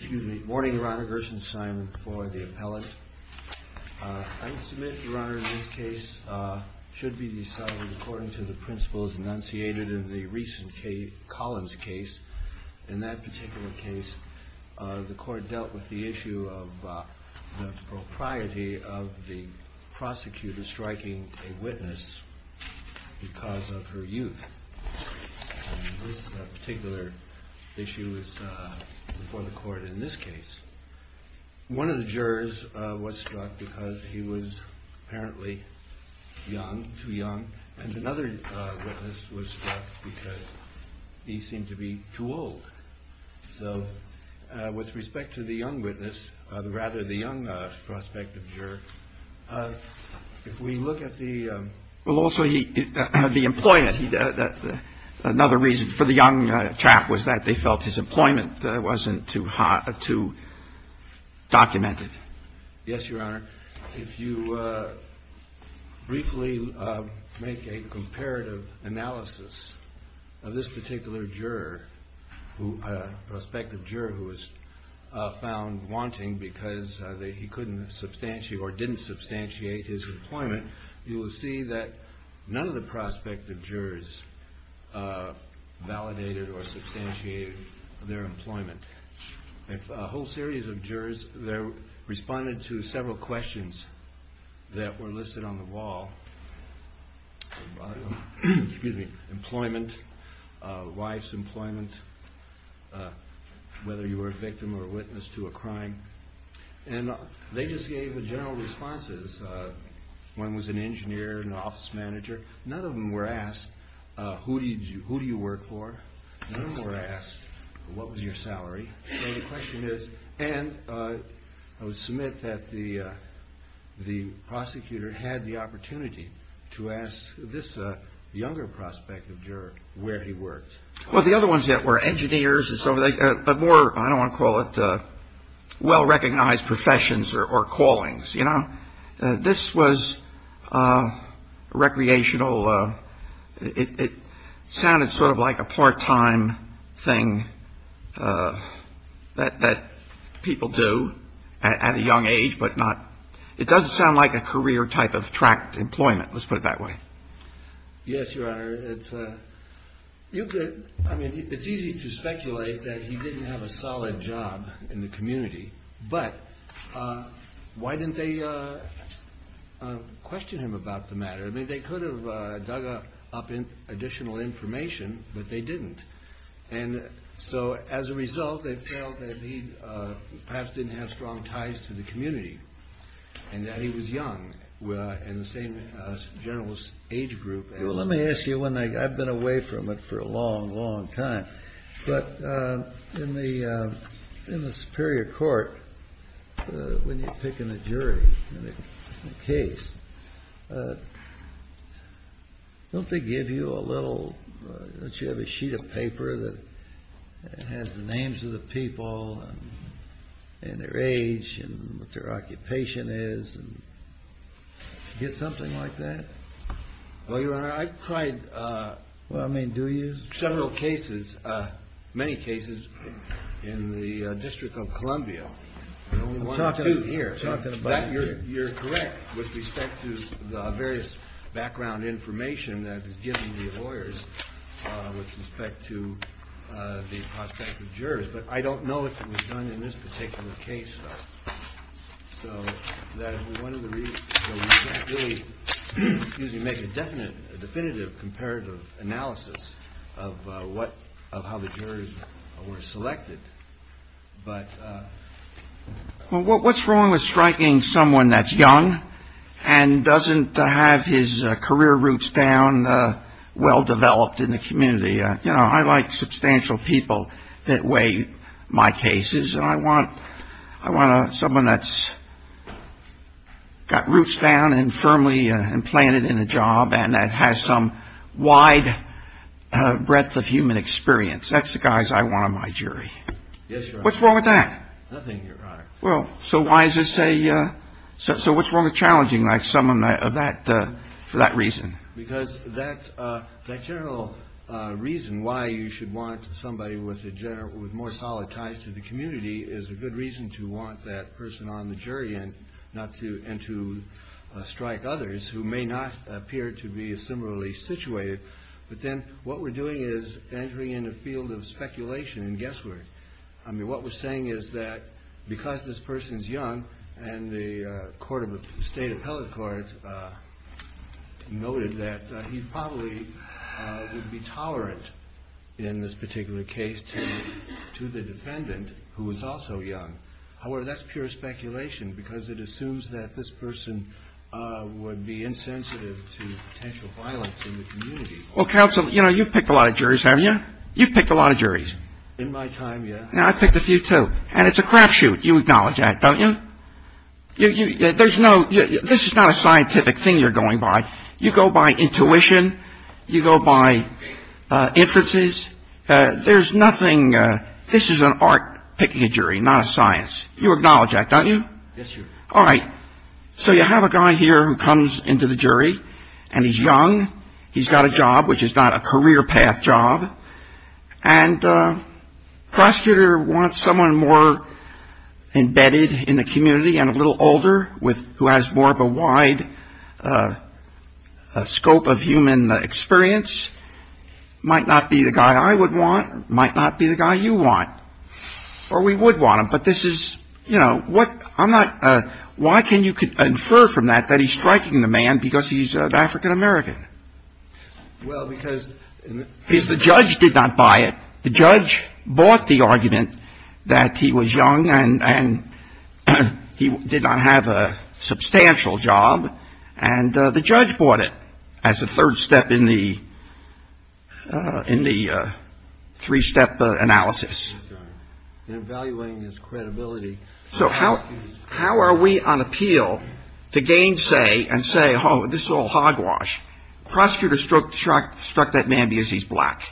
Good morning, Your Honor. Gerson Simon for the appellate. I must admit, Your Honor, that this case should be decided according to the principles enunciated in the recent K. Collins case. In that particular case, the court dealt with the issue of the propriety of the prosecutor striking a witness because of her youth. This particular issue is before the court in this case. One of the jurors was struck because he was apparently young, too young, and another witness was struck because he seemed to be too old. So with respect to the young witness, rather the young prospect of juror, if we look at the Well, also, the employment, another reason for the young chap was that they felt his employment wasn't too hot, too documented. Yes, Your Honor. If you briefly make a comparative analysis of this particular juror, prospective juror who was found wanting because he couldn't substantiate or didn't substantiate his employment, you will see that none of the prospective jurors validated or substantiated their employment. A whole series of jurors responded to several questions that were listed on the wall, employment, wife's employment, whether you were a victim or a witness to a crime. And they just gave general responses. One was an engineer, an office manager. None of them were asked, who do you work for? None of them were asked, what was your salary? So the question is, and I would submit that the prosecutor had the opportunity to ask this younger prospective juror where he worked. Well, the other ones that were engineers and so forth, but more, I don't want to call it well-recognized professions or callings, you know. This was recreational. It sounded sort of like a part-time thing that people do at a young age, but not. It doesn't sound like a career type of tracked employment. Let's put it that way. Yes, Your Honor. It's easy to speculate that he didn't have a solid job in the community, but why didn't they question him about the matter? I mean, they could have dug up additional information, but they didn't. And so as a result, they felt that he perhaps didn't have strong ties to the community and that he was young and the same general age group. Well, let me ask you one thing. I've been away from it for a long, long time. But in the Superior Court, when you're picking a jury in a case, don't they give you a little, don't you have a sheet of paper that has the names of the people and their age and what their occupation is and you get something like that? Well, Your Honor, I've tried several cases, many cases in the District of Columbia. You're correct with respect to the various background information that is given the lawyers with respect to the prospect of jurors. But I don't know if it was done in this particular case. So that is one of the reasons you make a definite definitive comparative analysis of what of how the jurors were selected. But what's wrong with striking someone that's young and doesn't have his career roots down? Someone that's well-developed in the community. You know, I like substantial people that weigh my cases. And I want someone that's got roots down and firmly implanted in a job and that has some wide breadth of human experience. That's the guys I want on my jury. Yes, Your Honor. What's wrong with that? Nothing, Your Honor. Well, so why is this a, so what's wrong with challenging someone for that reason? Because that general reason why you should want somebody with more solid ties to the community is a good reason to want that person on the jury and to strike others who may not appear to be similarly situated. But then what we're doing is entering in a field of speculation and guesswork. Well, counsel, you know, you've picked a lot of juries, haven't you? You've picked a lot of juries. In my time, yeah. And I've picked a few, too. And it's a crapshoot. You acknowledge that, don't you? There's no, this is not a scientific thing you're going by. You go by intuition. You go by inferences. There's nothing, this is an art picking a jury, not a science. You acknowledge that, don't you? Yes, Your Honor. All right. So you have a guy here who comes into the jury, and he's young. He's got a job, which is not a career path job. And prosecutor wants someone more embedded in the community and a little older with, who has more of a wide scope of human experience. Might not be the guy I would want. Might not be the guy you want. Or we would want him. But this is, you know, what, I'm not, why can you infer from that that he's striking the man because he's an African-American? Well, because the judge did not buy it. The judge bought the argument that he was young and he did not have a substantial job. And the judge bought it as a third step in the three-step analysis. In evaluating his credibility. So how are we on appeal to gainsay and say, oh, this is all hogwash. Prosecutor struck that man because he's black.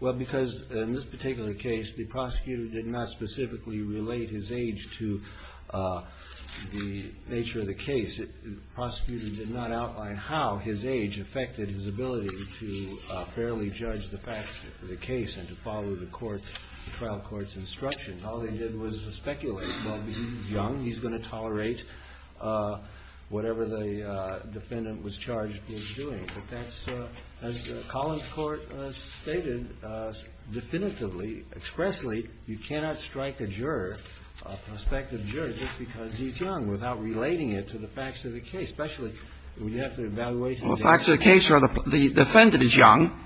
Well, because in this particular case, the prosecutor did not specifically relate his age to the nature of the case. The prosecutor did not outline how his age affected his ability to fairly judge the facts of the case and to follow the trial court's instructions. All they did was speculate, well, he's young, he's going to tolerate whatever the defendant was charged with doing. But that's, as Collins Court stated definitively, expressly, you cannot strike a juror, a prospective juror, just because he's young without relating it to the facts of the case, especially when you have to evaluate his age. Well, the facts of the case are the defendant is young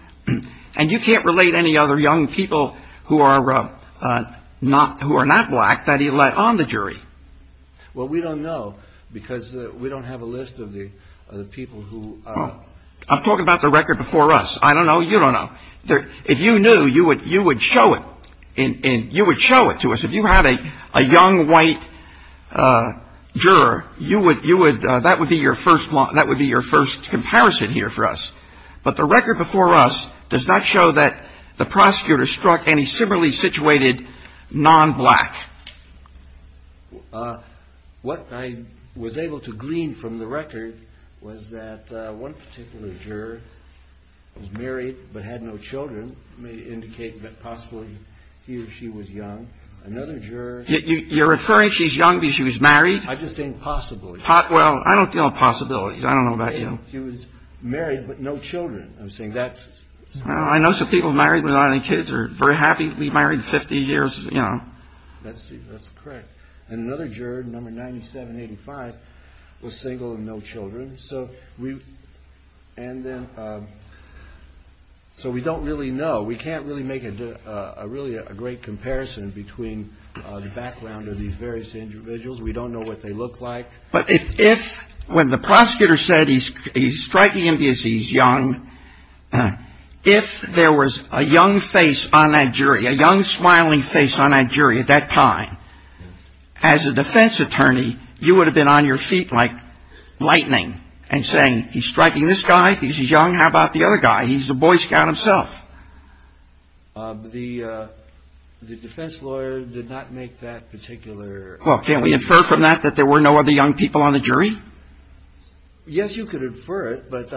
and you can't relate any other young people who are not black that he let on the jury. Well, we don't know because we don't have a list of the people who are. I'm talking about the record before us. I don't know. You don't know. If you knew, you would show it. You would show it to us. If you had a young white juror, you would, that would be your first comparison here for us. But the record before us does not show that the prosecutor struck any similarly situated nonblack. What I was able to glean from the record was that one particular juror was married but had no children. It may indicate that possibly he or she was young. Another juror. You're referring, she's young because she was married? I'm just saying possibly. Well, I don't deal in possibilities. I don't know about you. She was married but no children. I'm saying that's. I know some people married without any kids are very happy to be married 50 years, you know. That's correct. And another juror, number 9785, was single and no children. So we. And then. So we don't really know. We can't really make a really great comparison between the background of these various individuals. We don't know what they look like. But if when the prosecutor said he's striking him because he's young. If there was a young face on that jury, a young smiling face on that jury at that time, as a defense attorney, you would have been on your feet like lightning and saying he's striking this guy because he's young. How about the other guy? He's a Boy Scout himself. The defense lawyer did not make that particular. Well, can we infer from that that there were no other young people on the jury? Yes, you could infer it, but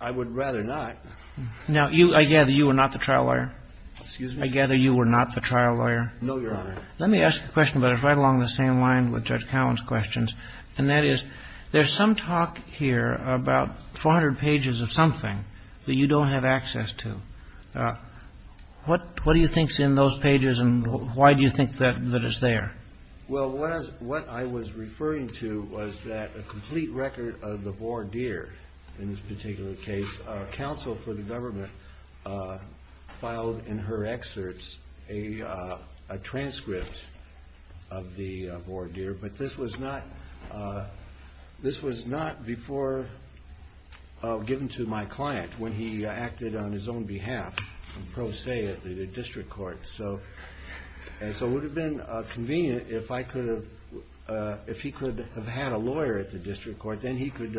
I would rather not. Now, I gather you were not the trial lawyer. Excuse me? I gather you were not the trial lawyer. No, Your Honor. Let me ask a question, but it's right along the same line with Judge Cowen's questions. And that is, there's some talk here about 400 pages of something that you don't have access to. What do you think's in those pages and why do you think that that is there? Well, what I was referring to was that a complete record of the voir dire in this particular case. Counsel for the government filed in her excerpts a transcript of the voir dire, but this was not before given to my client when he acted on his own behalf, pro se at the district court. And so it would have been convenient if he could have had a lawyer at the district court. Then he could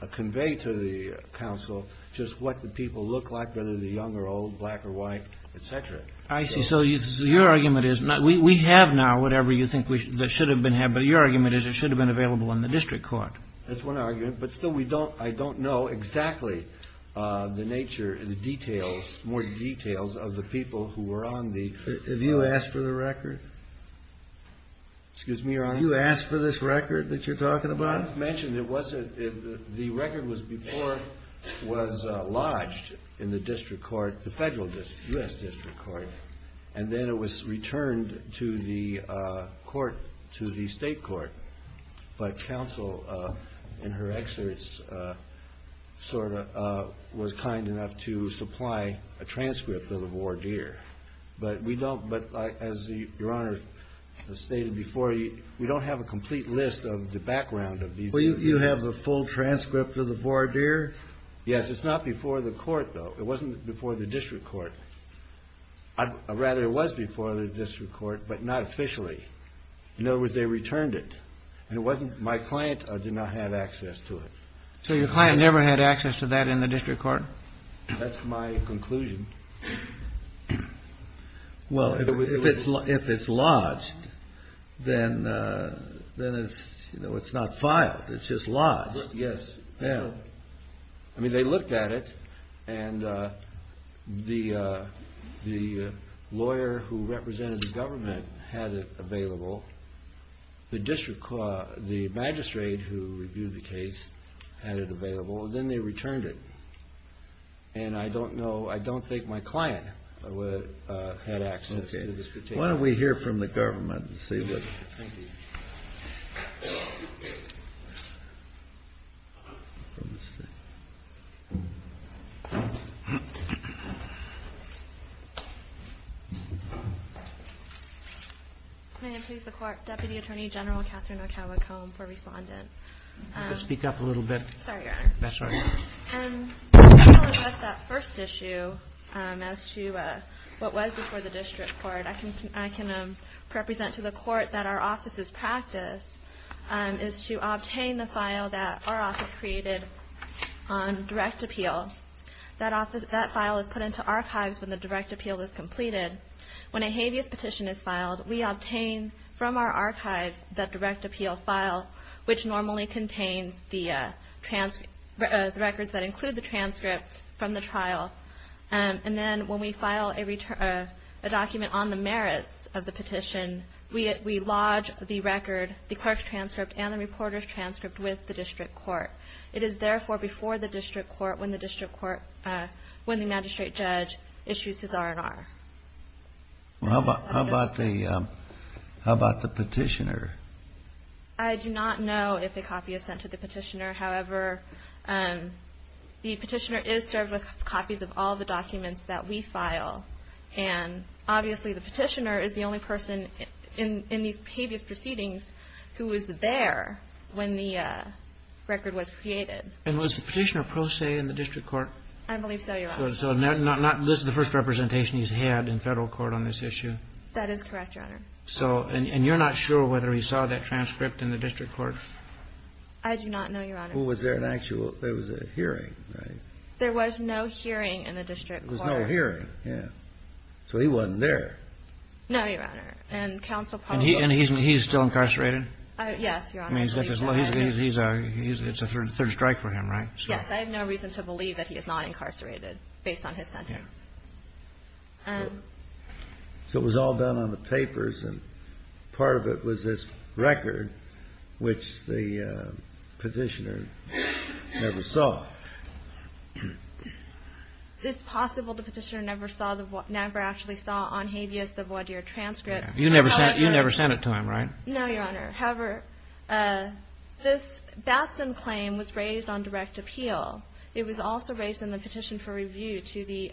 have conveyed to the counsel just what the people look like, whether they're young or old, black or white, et cetera. I see. So your argument is we have now whatever you think that should have been had, but your argument is it should have been available in the district court. That's one argument. But still, I don't know exactly the nature, the details, more details of the people who were on the- Have you asked for the record? Excuse me, Your Honor? You asked for this record that you're talking about? I've mentioned it wasn't. The record was before it was lodged in the district court, the federal district, U.S. district court, and then it was returned to the court, to the state court. But counsel, in her excerpts, sort of was kind enough to supply a transcript of the voir dire. But as Your Honor stated before, we don't have a complete list of the background of these people. You have the full transcript of the voir dire? Yes. It's not before the court, though. It wasn't before the district court. Rather, it was before the district court, but not officially. In other words, they returned it. My client did not have access to it. So your client never had access to that in the district court? That's my conclusion. Well, if it's lodged, then it's not filed. It's just lodged. Yes. I mean, they looked at it, and the lawyer who represented the government had it available. The magistrate who reviewed the case had it available, and then they returned it. And I don't know, I don't think my client had access to this. Why don't we hear from the government and see what they have to say. May it please the Court. Deputy Attorney General Catherine Ocaba-Cohen for respondent. Speak up a little bit. That's all right. I'll address that first issue as to what was before the district court. I can represent to the court that our office's practice is to obtain the file that our office created on direct appeal. That file is put into archives when the direct appeal is completed. When a habeas petition is filed, we obtain from our archives that direct appeal file, which normally contains the transcripts, the records that include the transcripts from the trial. And then when we file a return, a document on the merits of the petition, we lodge the record, the clerk's transcript and the reporter's transcript with the district court. It is therefore before the district court when the district court, when the magistrate judge issues his R&R. How about the petitioner? I do not know if a copy is sent to the petitioner. However, the petitioner is served with copies of all the documents that we file. And obviously the petitioner is the only person in these habeas proceedings who was there when the record was created. And was the petitioner pro se in the district court? I believe so, Your Honor. So not the first representation he's had in federal court on this issue? That is correct, Your Honor. So, and you're not sure whether he saw that transcript in the district court? I do not know, Your Honor. Well, was there an actual, there was a hearing, right? There was no hearing in the district court. There was no hearing, yeah. So he wasn't there. No, Your Honor. And counsel probably. And he's still incarcerated? Yes, Your Honor. It's a third strike for him, right? Yes, I have no reason to believe that he is not incarcerated based on his sentence. So it was all done on the papers, and part of it was this record, which the petitioner never saw? It's possible the petitioner never saw, never actually saw on habeas the voir dire transcript. You never sent it to him, right? No, Your Honor. However, this Batson claim was raised on direct appeal. It was also raised in the petition for review to the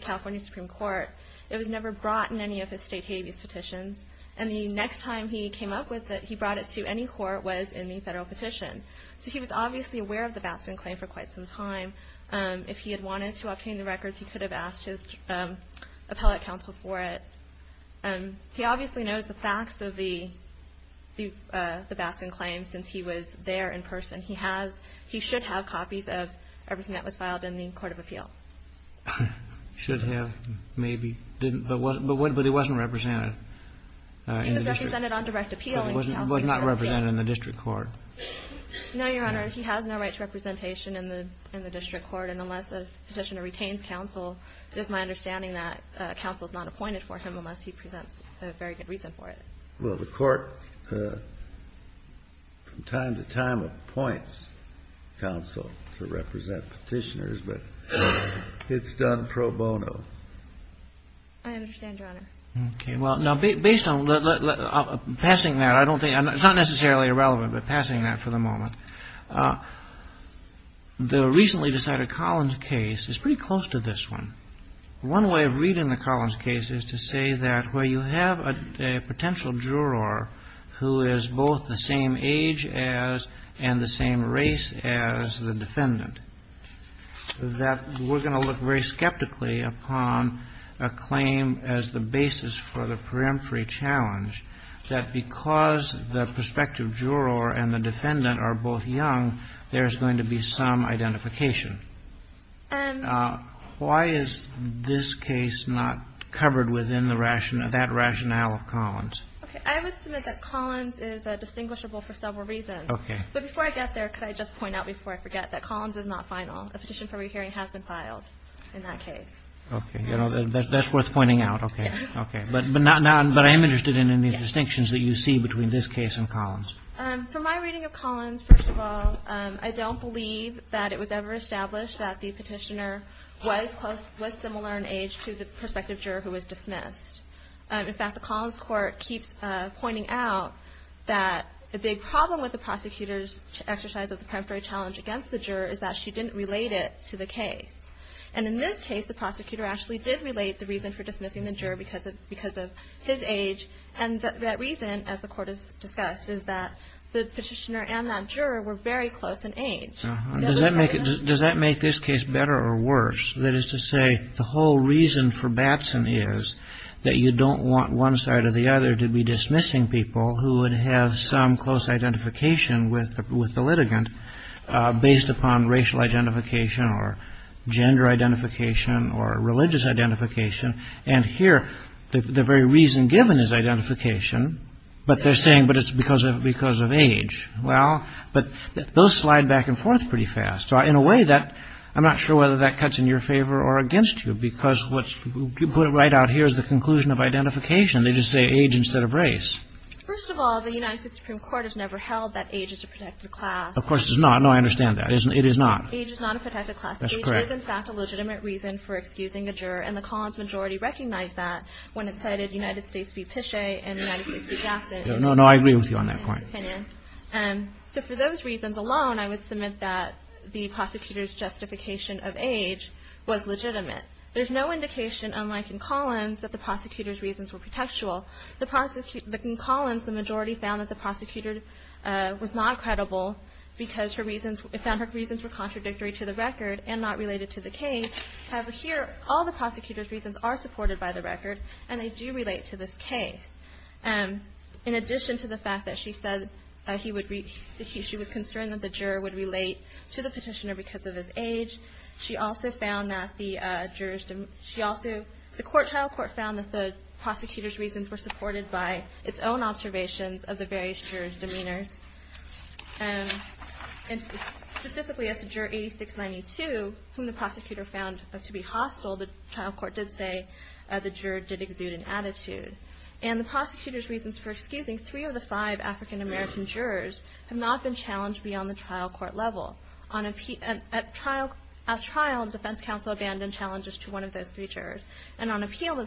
California Supreme Court. It was never brought in any of his state habeas petitions, and the next time he came up with it, he brought it to any court that was in the federal petition. So he was obviously aware of the Batson claim for quite some time. If he had wanted to obtain the records, he could have asked his appellate counsel for it. He obviously knows the facts of the Batson claim since he was there in person. He should have copies of everything that was filed in the court of appeal. Should have, maybe, but it wasn't represented. It was represented on direct appeal. It was not represented in the district court. No, Your Honor. He has no right to representation in the district court, and unless a petitioner retains counsel, it is my understanding that counsel is not appointed for him unless he presents a very good reason for it. Well, the court from time to time appoints counsel to represent petitioners, but it's done pro bono. I understand, Your Honor. Okay. Well, now, based on passing that, it's not necessarily irrelevant, but passing that for the moment, the recently decided Collins case is pretty close to this one. One way of reading the Collins case is to say that where you have a potential juror who is both the same age as and the same race as the defendant, that we're going to look very skeptically upon a claim as the basis for the peremptory challenge that because the prospective juror and the defendant are both young, there's going to be some identification. Why is this case not covered within the rationale, that rationale of Collins? Okay. I would submit that Collins is distinguishable for several reasons. Okay. But before I get there, could I just point out before I forget that Collins is not final. A petition for rehearing has been filed in that case. Okay. You know, that's worth pointing out. Okay. Okay. But I am interested in any distinctions that you see between this case and Collins. For my reading of Collins, first of all, I don't believe that it was ever established that the petitioner was close, was similar in age to the prospective juror who was dismissed. In fact, the Collins court keeps pointing out that the big problem with the prosecutor's exercise of the peremptory challenge against the juror is that she didn't relate it to the case. And in this case, the prosecutor actually did relate the reason for dismissing the juror because of his age. And that reason, as the court has discussed, is that the petitioner and that juror were very close in age. Does that make this case better or worse? That is to say, the whole reason for Batson is that you don't want one side or the other to be dismissing people who would have some close identification with the litigant based upon racial identification or gender identification or religious identification. And here, the very reason given is identification, but they're saying, but it's because of age. Well, but those slide back and forth pretty fast. So in a way, I'm not sure whether that cuts in your favor or against you because what you put right out here is the conclusion of identification. They just say age instead of race. First of all, the United States Supreme Court has never held that age is a protected class. Of course it's not. No, I understand that. It is not. Age is not a protected class. That's correct. It is, in fact, a legitimate reason for excusing a juror. And the Collins majority recognized that when it cited United States v. Pichet and United States v. Batson. No, no, I agree with you on that point. So for those reasons alone, I would submit that the prosecutor's justification of age was legitimate. There's no indication, unlike in Collins, that the prosecutor's reasons were protectual. In Collins, the majority found that the prosecutor was not credible because her reasons were contradictory to the record and not related to the case. However, here, all the prosecutor's reasons are supported by the record, and they do relate to this case. In addition to the fact that she said he would be – she was concerned that the juror would relate to the petitioner because of his age, she also found that the jurors – she also – the trial court found that the prosecutor's reasons were supported by its own observations of the various jurors' demeanors. And specifically, as to Juror 8692, whom the prosecutor found to be hostile, the trial court did say the juror did exude an attitude. And the prosecutor's reasons for excusing three of the five African American jurors have not been challenged beyond the trial court level. At trial, defense counsel abandoned challenges to one of those three jurors. And on appeal, the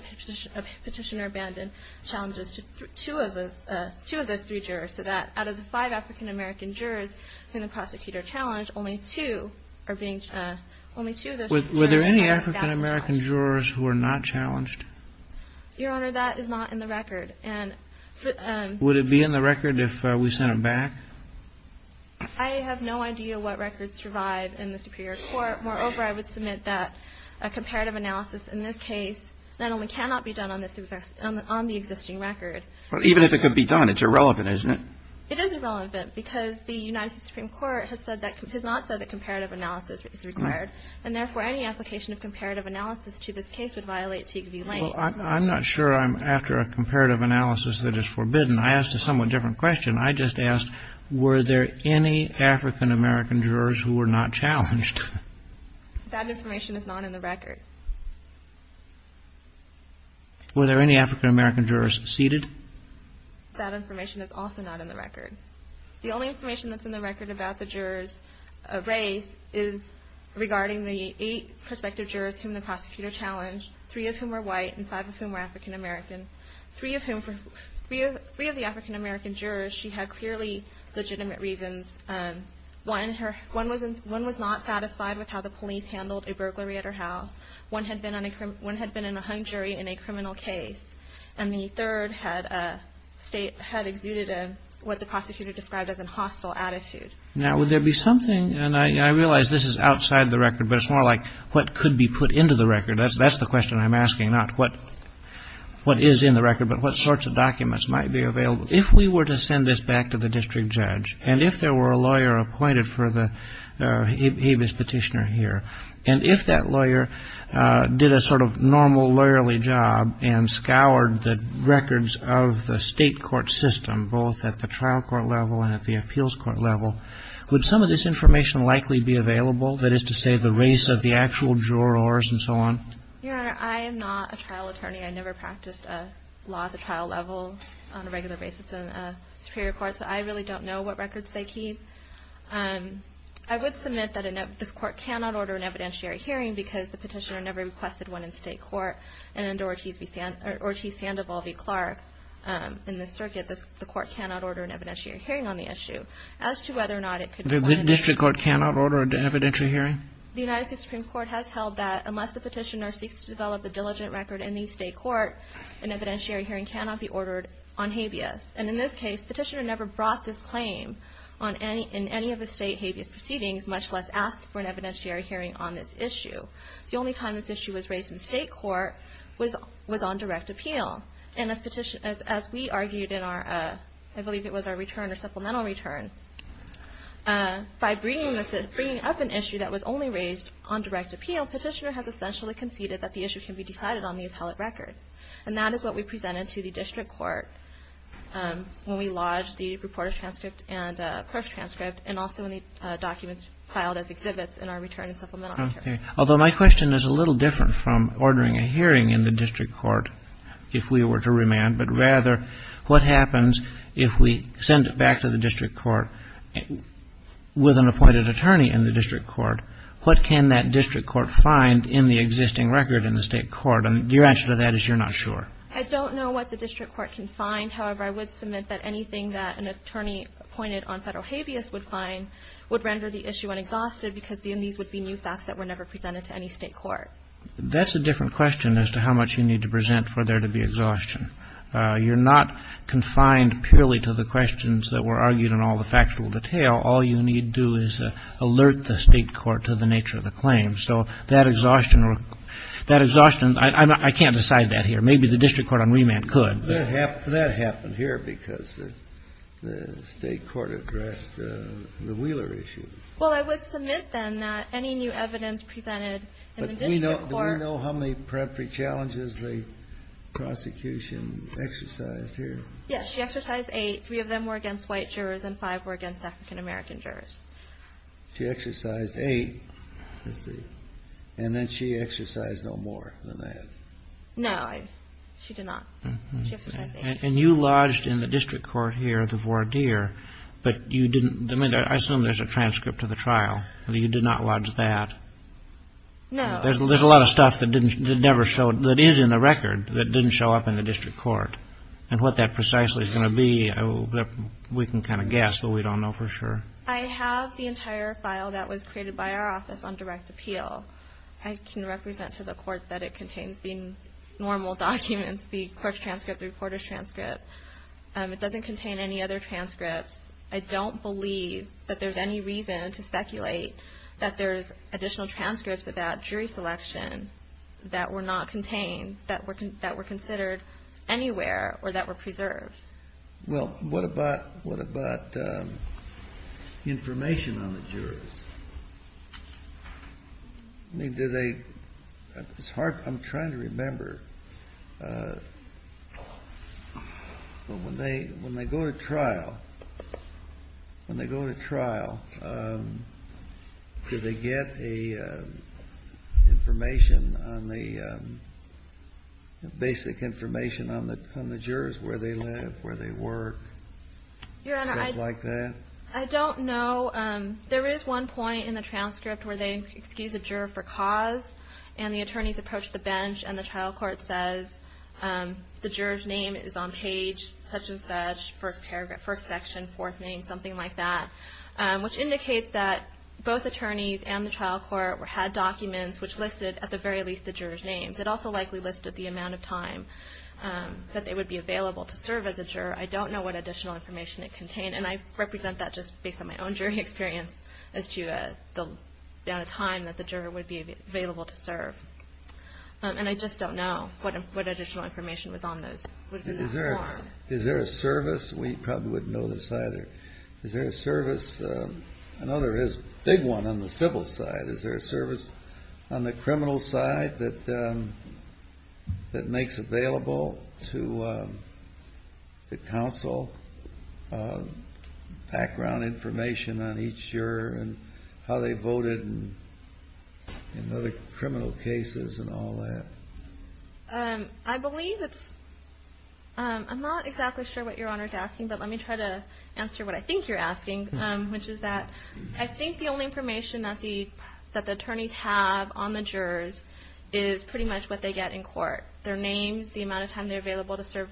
petitioner abandoned challenges to two of those three jurors, so that out of the five African American jurors whom the prosecutor challenged, only two are being – only two of those – Were there any African American jurors who were not challenged? Your Honor, that is not in the record. Would it be in the record if we sent it back? I have no idea what records survive in the Superior Court. Moreover, I would submit that a comparative analysis in this case not only cannot be done on the existing record – Even if it could be done, it's irrelevant, isn't it? It is irrelevant because the United States Supreme Court has said that – has not said that comparative analysis is required. And therefore, any application of comparative analysis to this case would violate Teague v. Lane. Well, I'm not sure I'm after a comparative analysis that is forbidden. I asked a somewhat different question. I just asked, were there any African American jurors who were not challenged? That information is not in the record. Were there any African American jurors seated? That information is also not in the record. The only information that's in the record about the jurors raised is regarding the eight prospective jurors whom the prosecutor challenged, three of whom were white and five of whom were African American. Three of whom – three of the African American jurors, she had clearly legitimate reasons. One was not satisfied with how the police handled a burglary at her house. One had been in a hung jury in a criminal case. And the third had exuded what the prosecutor described as a hostile attitude. Now, would there be something – and I realize this is outside the record, but it's more like what could be put into the record. That's the question I'm asking, not what is in the record, but what sorts of documents might be available. If we were to send this back to the district judge, and if there were a lawyer appointed for the habeas petitioner here, and if that lawyer did a sort of normal lawyerly job and scoured the records of the state court system, both at the trial court level and at the appeals court level, would some of this information likely be available, that is to say the race of the actual jurors and so on? Your Honor, I am not a trial attorney. I never practiced a law at the trial level on a regular basis in a superior court, so I really don't know what records they keep. I would submit that this court cannot order an evidentiary hearing because the petitioner never requested one in state court. And under Ortiz-Sandoval v. Clark in this circuit, the court cannot order an evidentiary hearing on the issue. As to whether or not it could be one in state court. The district court cannot order an evidentiary hearing? The United States Supreme Court has held that unless the petitioner seeks to develop a diligent record in the state court, an evidentiary hearing cannot be ordered on habeas. And in this case, petitioner never brought this claim in any of the state habeas proceedings, much less asked for an evidentiary hearing on this issue. The only time this issue was raised in state court was on direct appeal. And as we argued in our, I believe it was our return or supplemental return, by bringing up an issue that was only raised on direct appeal, petitioner has essentially conceded that the issue can be decided on the appellate record. And that is what we presented to the district court when we lodged the reporter's transcript and proof transcript and also when the documents filed as exhibits in our return and supplemental. Okay. Although my question is a little different from ordering a hearing in the district court if we were to remand, but rather what happens if we send it back to the district court with an appointed attorney in the district court? What can that district court find in the existing record in the state court? And your answer to that is you're not sure. I don't know what the district court can find. However, I would submit that anything that an attorney appointed on federal habeas would find would render the issue unexhausted because then these would be new facts that were never presented to any state court. That's a different question as to how much you need to present for there to be exhaustion. You're not confined purely to the questions that were argued in all the factual detail. All you need do is alert the state court to the nature of the claim. So that exhaustion, I can't decide that here. Maybe the district court on remand could. That happened here because the state court addressed the Wheeler issue. Well, I would submit, then, that any new evidence presented in the district court But do we know how many peremptory challenges the prosecution exercised here? Yes, she exercised eight. Three of them were against white jurors and five were against African-American jurors. She exercised eight. Let's see. And then she exercised no more than that. No, she did not. She exercised eight. And you lodged in the district court here the voir dire, but you didn't. I assume there's a transcript of the trial. You did not lodge that. No. There's a lot of stuff that is in the record that didn't show up in the district court. And what that precisely is going to be, we can kind of guess, but we don't know for sure. I have the entire file that was created by our office on direct appeal. I can represent to the court that it contains the normal documents, the court's transcript, the reporter's transcript. It doesn't contain any other transcripts. I don't believe that there's any reason to speculate that there's additional transcripts about jury selection that were not contained, that were considered anywhere or that were preserved. Well, what about information on the jurors? I mean, do they – it's hard. I'm trying to remember. But when they go to trial, when they go to trial, do they get a basic information on the jurors, where they live, where they work, stuff like that? Your Honor, I don't know. There is one point in the transcript where they excuse a juror for cause, and the attorneys approach the bench and the trial court says the juror's name is on page such and such, first section, fourth name, something like that, which indicates that both attorneys and the trial court had documents which listed at the very least the jurors' names. It also likely listed the amount of time that they would be available to serve as a juror. I don't know what additional information it contained, and I represent that just based on my own jury experience as to the amount of time that the juror would be available to serve. And I just don't know what additional information was on those – was in that form. Is there a service? We probably wouldn't know this either. But is there a service? I know there is a big one on the civil side. Is there a service on the criminal side that makes available to counsel background information on each juror and how they voted in other criminal cases and all that? I believe it's – I'm not exactly sure what Your Honor is asking, but let me try to answer what I think you're asking, which is that I think the only information that the attorneys have on the jurors is pretty much what they get in court, their names, the amount of time they're available to serve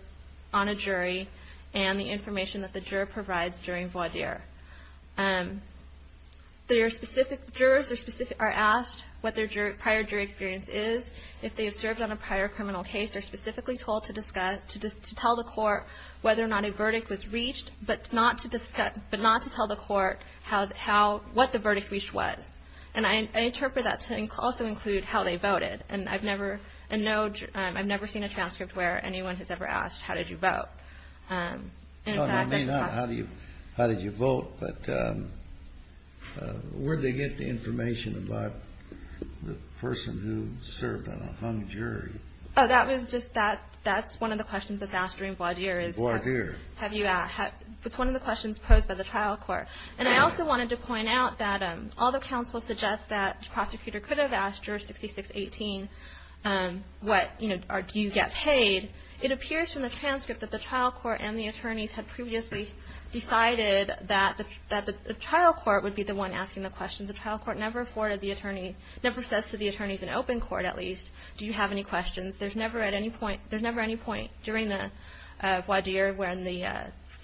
on a jury, and the information that the juror provides during voir dire. Jurors are asked what their prior jury experience is. If they have served on a prior criminal case, they're specifically told to discuss – to tell the court whether or not a verdict was reached, but not to tell the court how – what the verdict reached was. And I interpret that to also include how they voted. And I've never – I've never seen a transcript where anyone has ever asked how did you vote. In fact, in fact – How did you vote? But where did they get the information about the person who served on a hung jury? Oh, that was just – that's one of the questions that's asked during voir dire is – Voir dire. Have you – it's one of the questions posed by the trial court. And I also wanted to point out that although counsel suggests that the prosecutor could have asked juror 6618 what – you know, do you get paid, it appears from the transcript that the trial court and the attorneys had previously decided that the trial court would be the one asking the question. The trial court never afforded the attorney – never says to the attorneys in open court, at least, do you have any questions. There's never at any point – there's never any point during the voir dire when the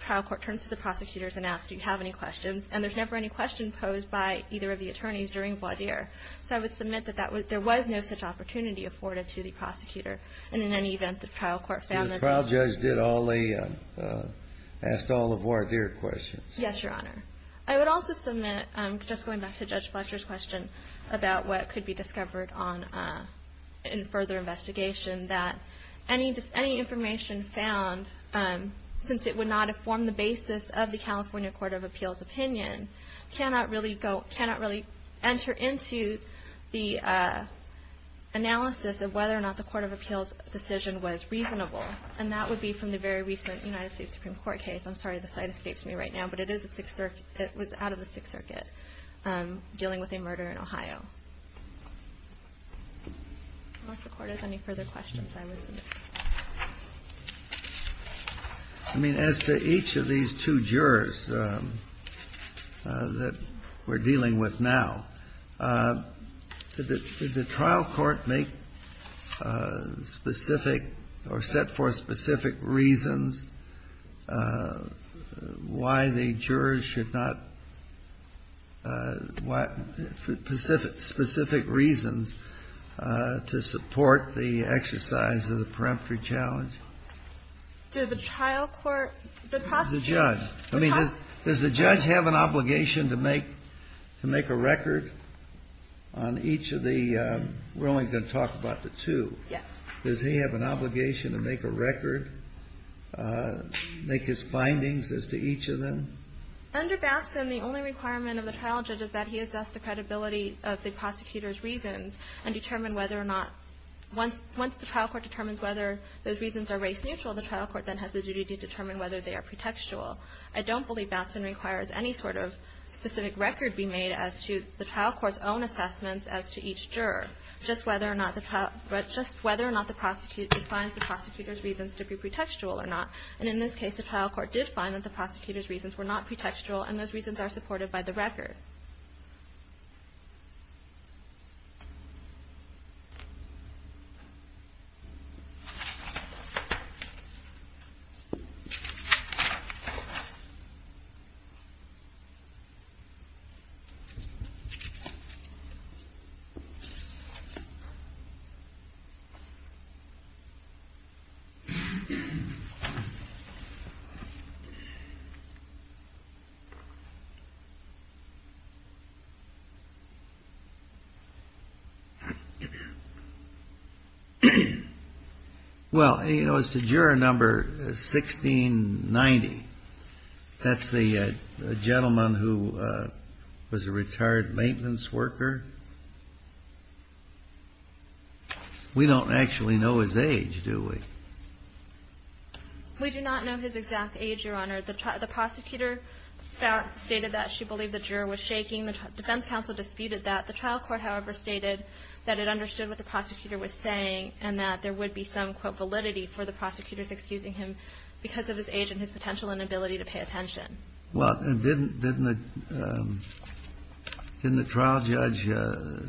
trial court turns to the prosecutors and asks do you have any questions. And there's never any question posed by either of the attorneys during voir dire. So I would submit that there was no such opportunity afforded to the prosecutor. And in any event, the trial court found that – The trial judge did all the – asked all the voir dire questions. Yes, Your Honor. I would also submit, just going back to Judge Fletcher's question, about what could be discovered on – in further investigation, that any information found, since it would not have formed the basis of the California Court of Appeals opinion, cannot really go – cannot really enter into the analysis of whether or not the Court of Appeals decision was reasonable. And that would be from the very recent United States Supreme Court case. I'm sorry, the slide escapes me right now. But it is a Sixth – it was out of the Sixth Circuit, dealing with a murder in Ohio. Unless the Court has any further questions, I would submit. I mean, as to each of these two jurors that we're dealing with now, did the trial court make specific or set forth specific reasons why the jurors should not – what specific reasons to support the exercise of the peremptory challenge? Did the trial court – the prosecution? The judge. I mean, does the judge have an obligation to make a record on each of the – we're only going to talk about the two. Yes. Does he have an obligation to make a record, make his findings as to each of them? Under Batson, the only requirement of the trial judge is that he assess the credibility of the prosecutor's reasons and determine whether or not – once the trial court determines whether those reasons are race-neutral, the trial court then has the duty to determine whether they are pretextual. I don't believe Batson requires any sort of specific record be made as to the trial court's own assessments as to each juror, just whether or not the prosecutor finds the prosecutor's reasons to be pretextual or not. And in this case, the trial court did find that the prosecutor's reasons were not pretextual, and those reasons are supported by the record. Thank you. Well, you know, as to juror number 1690. That's the gentleman who was a retired maintenance worker. We don't actually know his age, do we? We do not know his exact age, Your Honor. The prosecutor stated that she believed the juror was shaking. The defense counsel disputed that. The trial court, however, stated that it understood what the prosecutor was saying and that there would be some, quote, validity for the prosecutors excusing him because of his age and his potential inability to pay attention. Well, and didn't the trial judge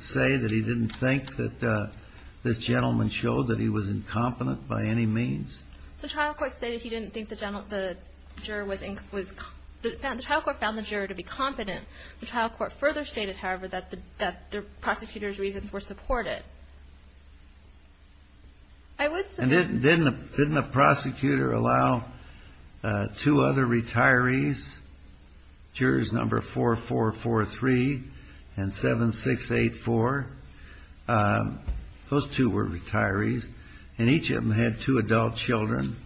say that he didn't think that this gentleman showed that he was incompetent by any means? The trial court stated he didn't think the juror was incompetent. The trial court found the juror to be competent. The trial court further stated, however, that the prosecutor's reasons were supported. And didn't the prosecutor allow two other retirees, jurors number 4443 and 7684? Those two were retirees, and each of them had two adult children,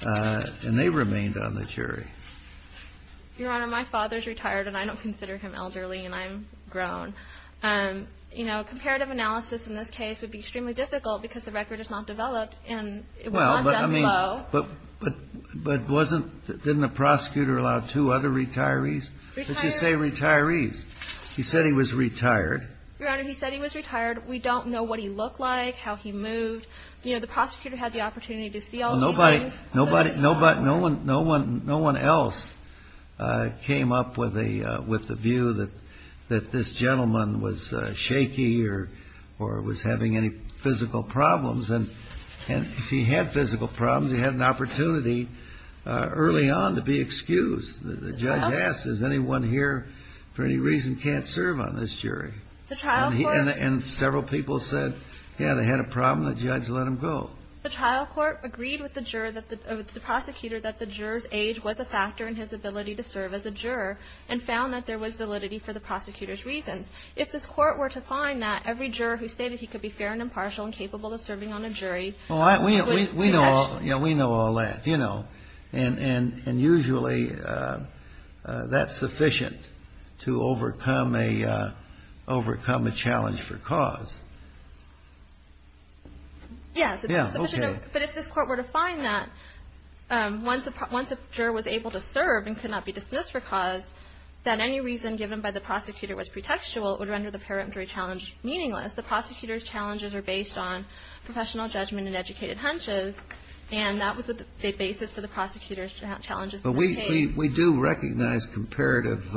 and they remained on the jury. Your Honor, my father's retired, and I don't consider him elderly, and I'm grown. You know, comparative analysis in this case would be extremely difficult because the record is not developed, and it would not be that low. But wasn't the prosecutor allowed two other retirees? Retirees. He said he was retired. Your Honor, he said he was retired. We don't know what he looked like, how he moved. You know, the prosecutor had the opportunity to see all of these things. No one else came up with the view that this gentleman was shaky or was having any physical problems. And if he had physical problems, he had an opportunity early on to be excused. The judge asked, is anyone here for any reason can't serve on this jury? And several people said, yeah, they had a problem. The judge let them go. The trial court agreed with the prosecutor that the juror's age was a factor in his ability to serve as a juror and found that there was validity for the prosecutor's reasons. If this court were to find that, every juror who stated he could be fair and impartial and capable of serving on a jury. We know all that, you know, and usually that's sufficient to overcome a challenge for cause. Yes. Yeah, okay. But if this court were to find that once a juror was able to serve and could not be dismissed for cause, that any reason given by the prosecutor was pretextual, it would render the parametric challenge meaningless. The prosecutor's challenges are based on professional judgment and educated hunches, and that was the basis for the prosecutor's challenges. But we do recognize comparative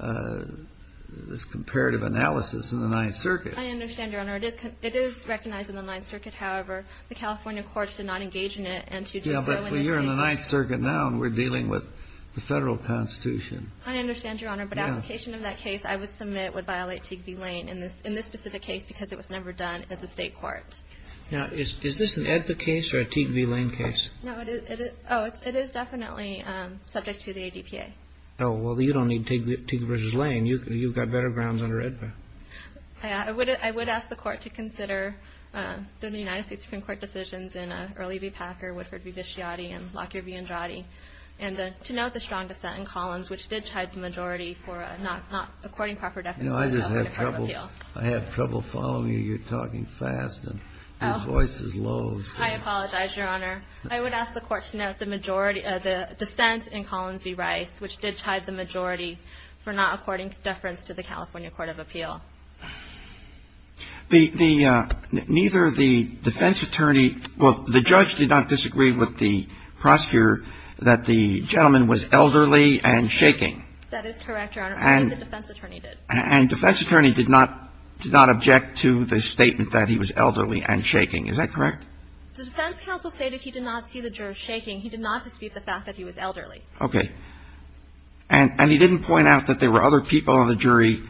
analysis in the Ninth Circuit. I understand, Your Honor. It is recognized in the Ninth Circuit. However, the California courts did not engage in it. Yeah, but you're in the Ninth Circuit now and we're dealing with the Federal Constitution. I understand, Your Honor, but application of that case, I would submit, would violate Teague v. Lane in this specific case because it was never done at the state court. Now, is this an AEDPA case or a Teague v. Lane case? No, it is definitely subject to the ADPA. Oh, well, you don't need Teague v. Lane. You've got better grounds under AEDPA. I would ask the Court to consider the United States Supreme Court decisions in Earley v. Packer, Woodford v. Visciati, and Lockyer v. Andrade, and to note the strong dissent in Collins, which did chide the majority for not according proper deference to the California Court of Appeal. No, I just have trouble following you. You're talking fast and your voice is low. I apologize, Your Honor. I would ask the Court to note the majority of the dissent in Collins v. Rice, which did chide the majority for not according deference to the California Court of Appeal. Neither the defense attorney or the judge did not disagree with the prosecutor that the gentleman was elderly and shaking. That is correct, Your Honor. And the defense attorney did. And defense attorney did not object to the statement that he was elderly and shaking. Is that correct? The defense counsel stated he did not see the judge shaking. He did not dispute the fact that he was elderly. Okay. And he didn't point out that there were other people on the jury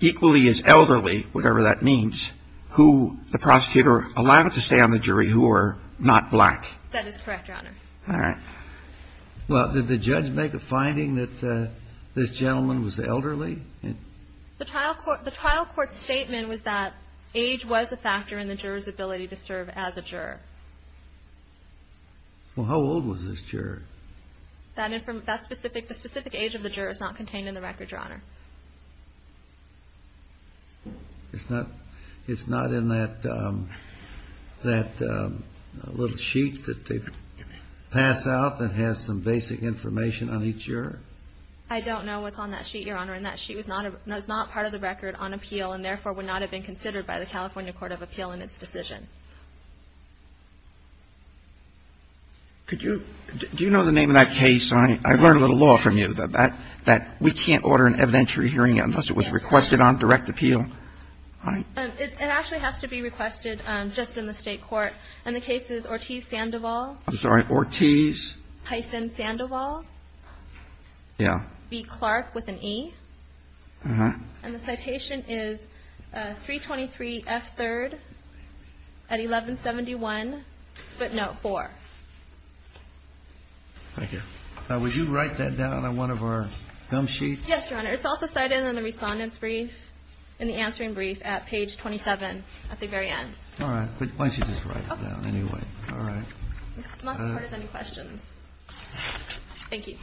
equally as elderly, whatever that means, who the prosecutor allowed to stay on the jury who were not black. That is correct, Your Honor. All right. Well, did the judge make a finding that this gentleman was elderly? The trial court's statement was that age was a factor in the juror's ability to serve as a juror. Well, how old was this juror? That specific age of the juror is not contained in the record, Your Honor. It's not in that little sheet that they pass out that has some basic information on each juror? I don't know what's on that sheet, Your Honor. And that sheet is not part of the record on appeal and therefore would not have been considered by the California Court of Appeal in its decision. Could you do you know the name of that case? I learned a little law from you that we can't order an evidentiary hearing unless it was requested on direct appeal. It actually has to be requested just in the State court. And the case is Ortiz-Sandoval. I'm sorry. Ortiz. Hyphen-Sandoval. Yeah. B. Clark with an E. Uh-huh. And the citation is 323F3rd at 1171 footnote 4. Thank you. Now, would you write that down on one of our gum sheets? Yes, Your Honor. It's also cited in the Respondent's brief, in the answering brief at page 27 at the very end. All right. But why don't you just write it down anyway? Okay. All right. If not, the Court has any questions. Thank you.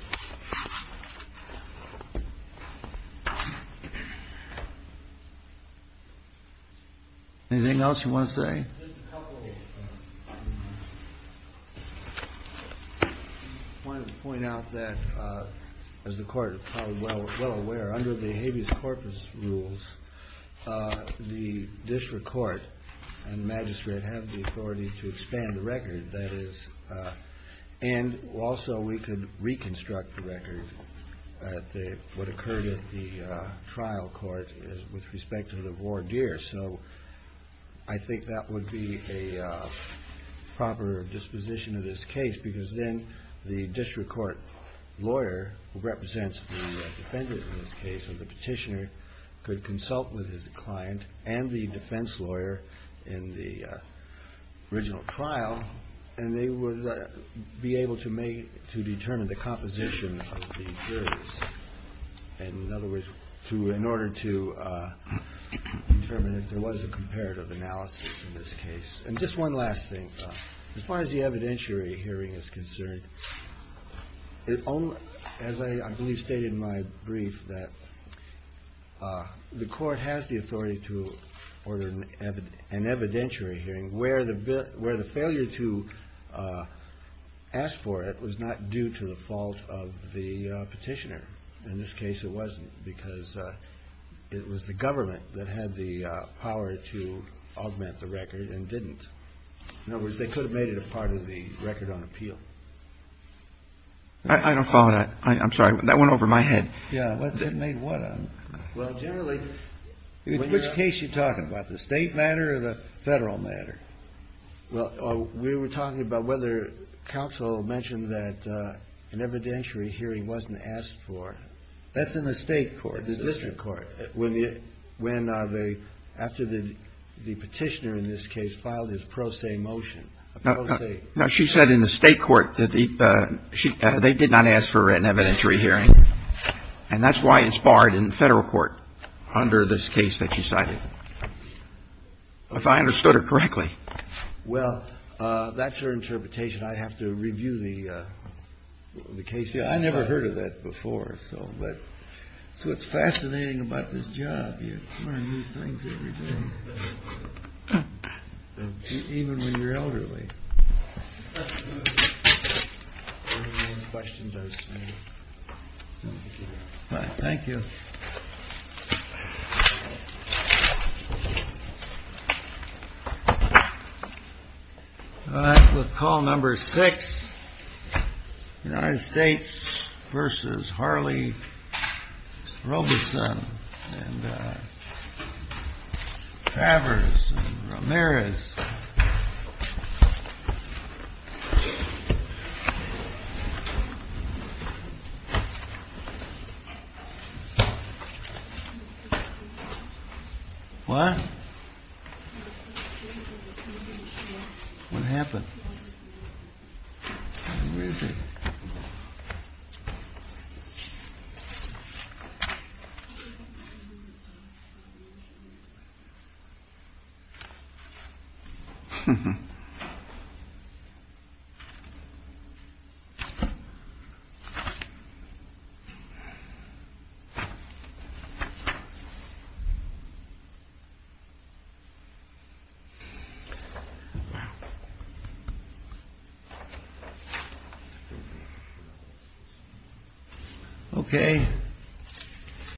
Anything else you want to say? Just a couple. I wanted to point out that, as the Court is probably well aware, under the habeas corpus rules, the district court and magistrate have the authority to expand the record. That is, and also we could reconstruct the record at what occurred at the trial court with respect to the voir dire. So I think that would be a proper disposition of this case, because then the district court lawyer, who represents the defendant in this case or the petitioner, could consult with his client and the defense lawyer in the original trial, and they would be able to determine the composition of the theories. In other words, in order to determine if there was a comparative analysis in this case. And just one last thing, as far as the evidentiary hearing is concerned, as I believe stated in my brief, that the Court has the authority to order an evidentiary hearing where the failure to ask for it was not due to the fault of the petitioner. In this case, it wasn't, because it was the government that had the power to augment the record and didn't. In other words, they could have made it a part of the record on appeal. I don't follow that. I'm sorry. That went over my head. Yeah. Well, generally, in which case are you talking about, the State matter or the Federal matter? Well, we were talking about whether counsel mentioned that an evidentiary hearing wasn't asked for. That's in the State court, the district court. After the petitioner in this case filed his pro se motion. No, she said in the State court that they did not ask for an evidentiary hearing. And that's why it's barred in the Federal court under this case that she cited. If I understood her correctly. Well, that's her interpretation. I'd have to review the case. I never heard of that before. So it's fascinating about this job. You learn new things every day. Even when you're elderly. Thank you. We'll call number six. United States versus Harley Roberson and Travers Ramirez. What? What happened? Okay.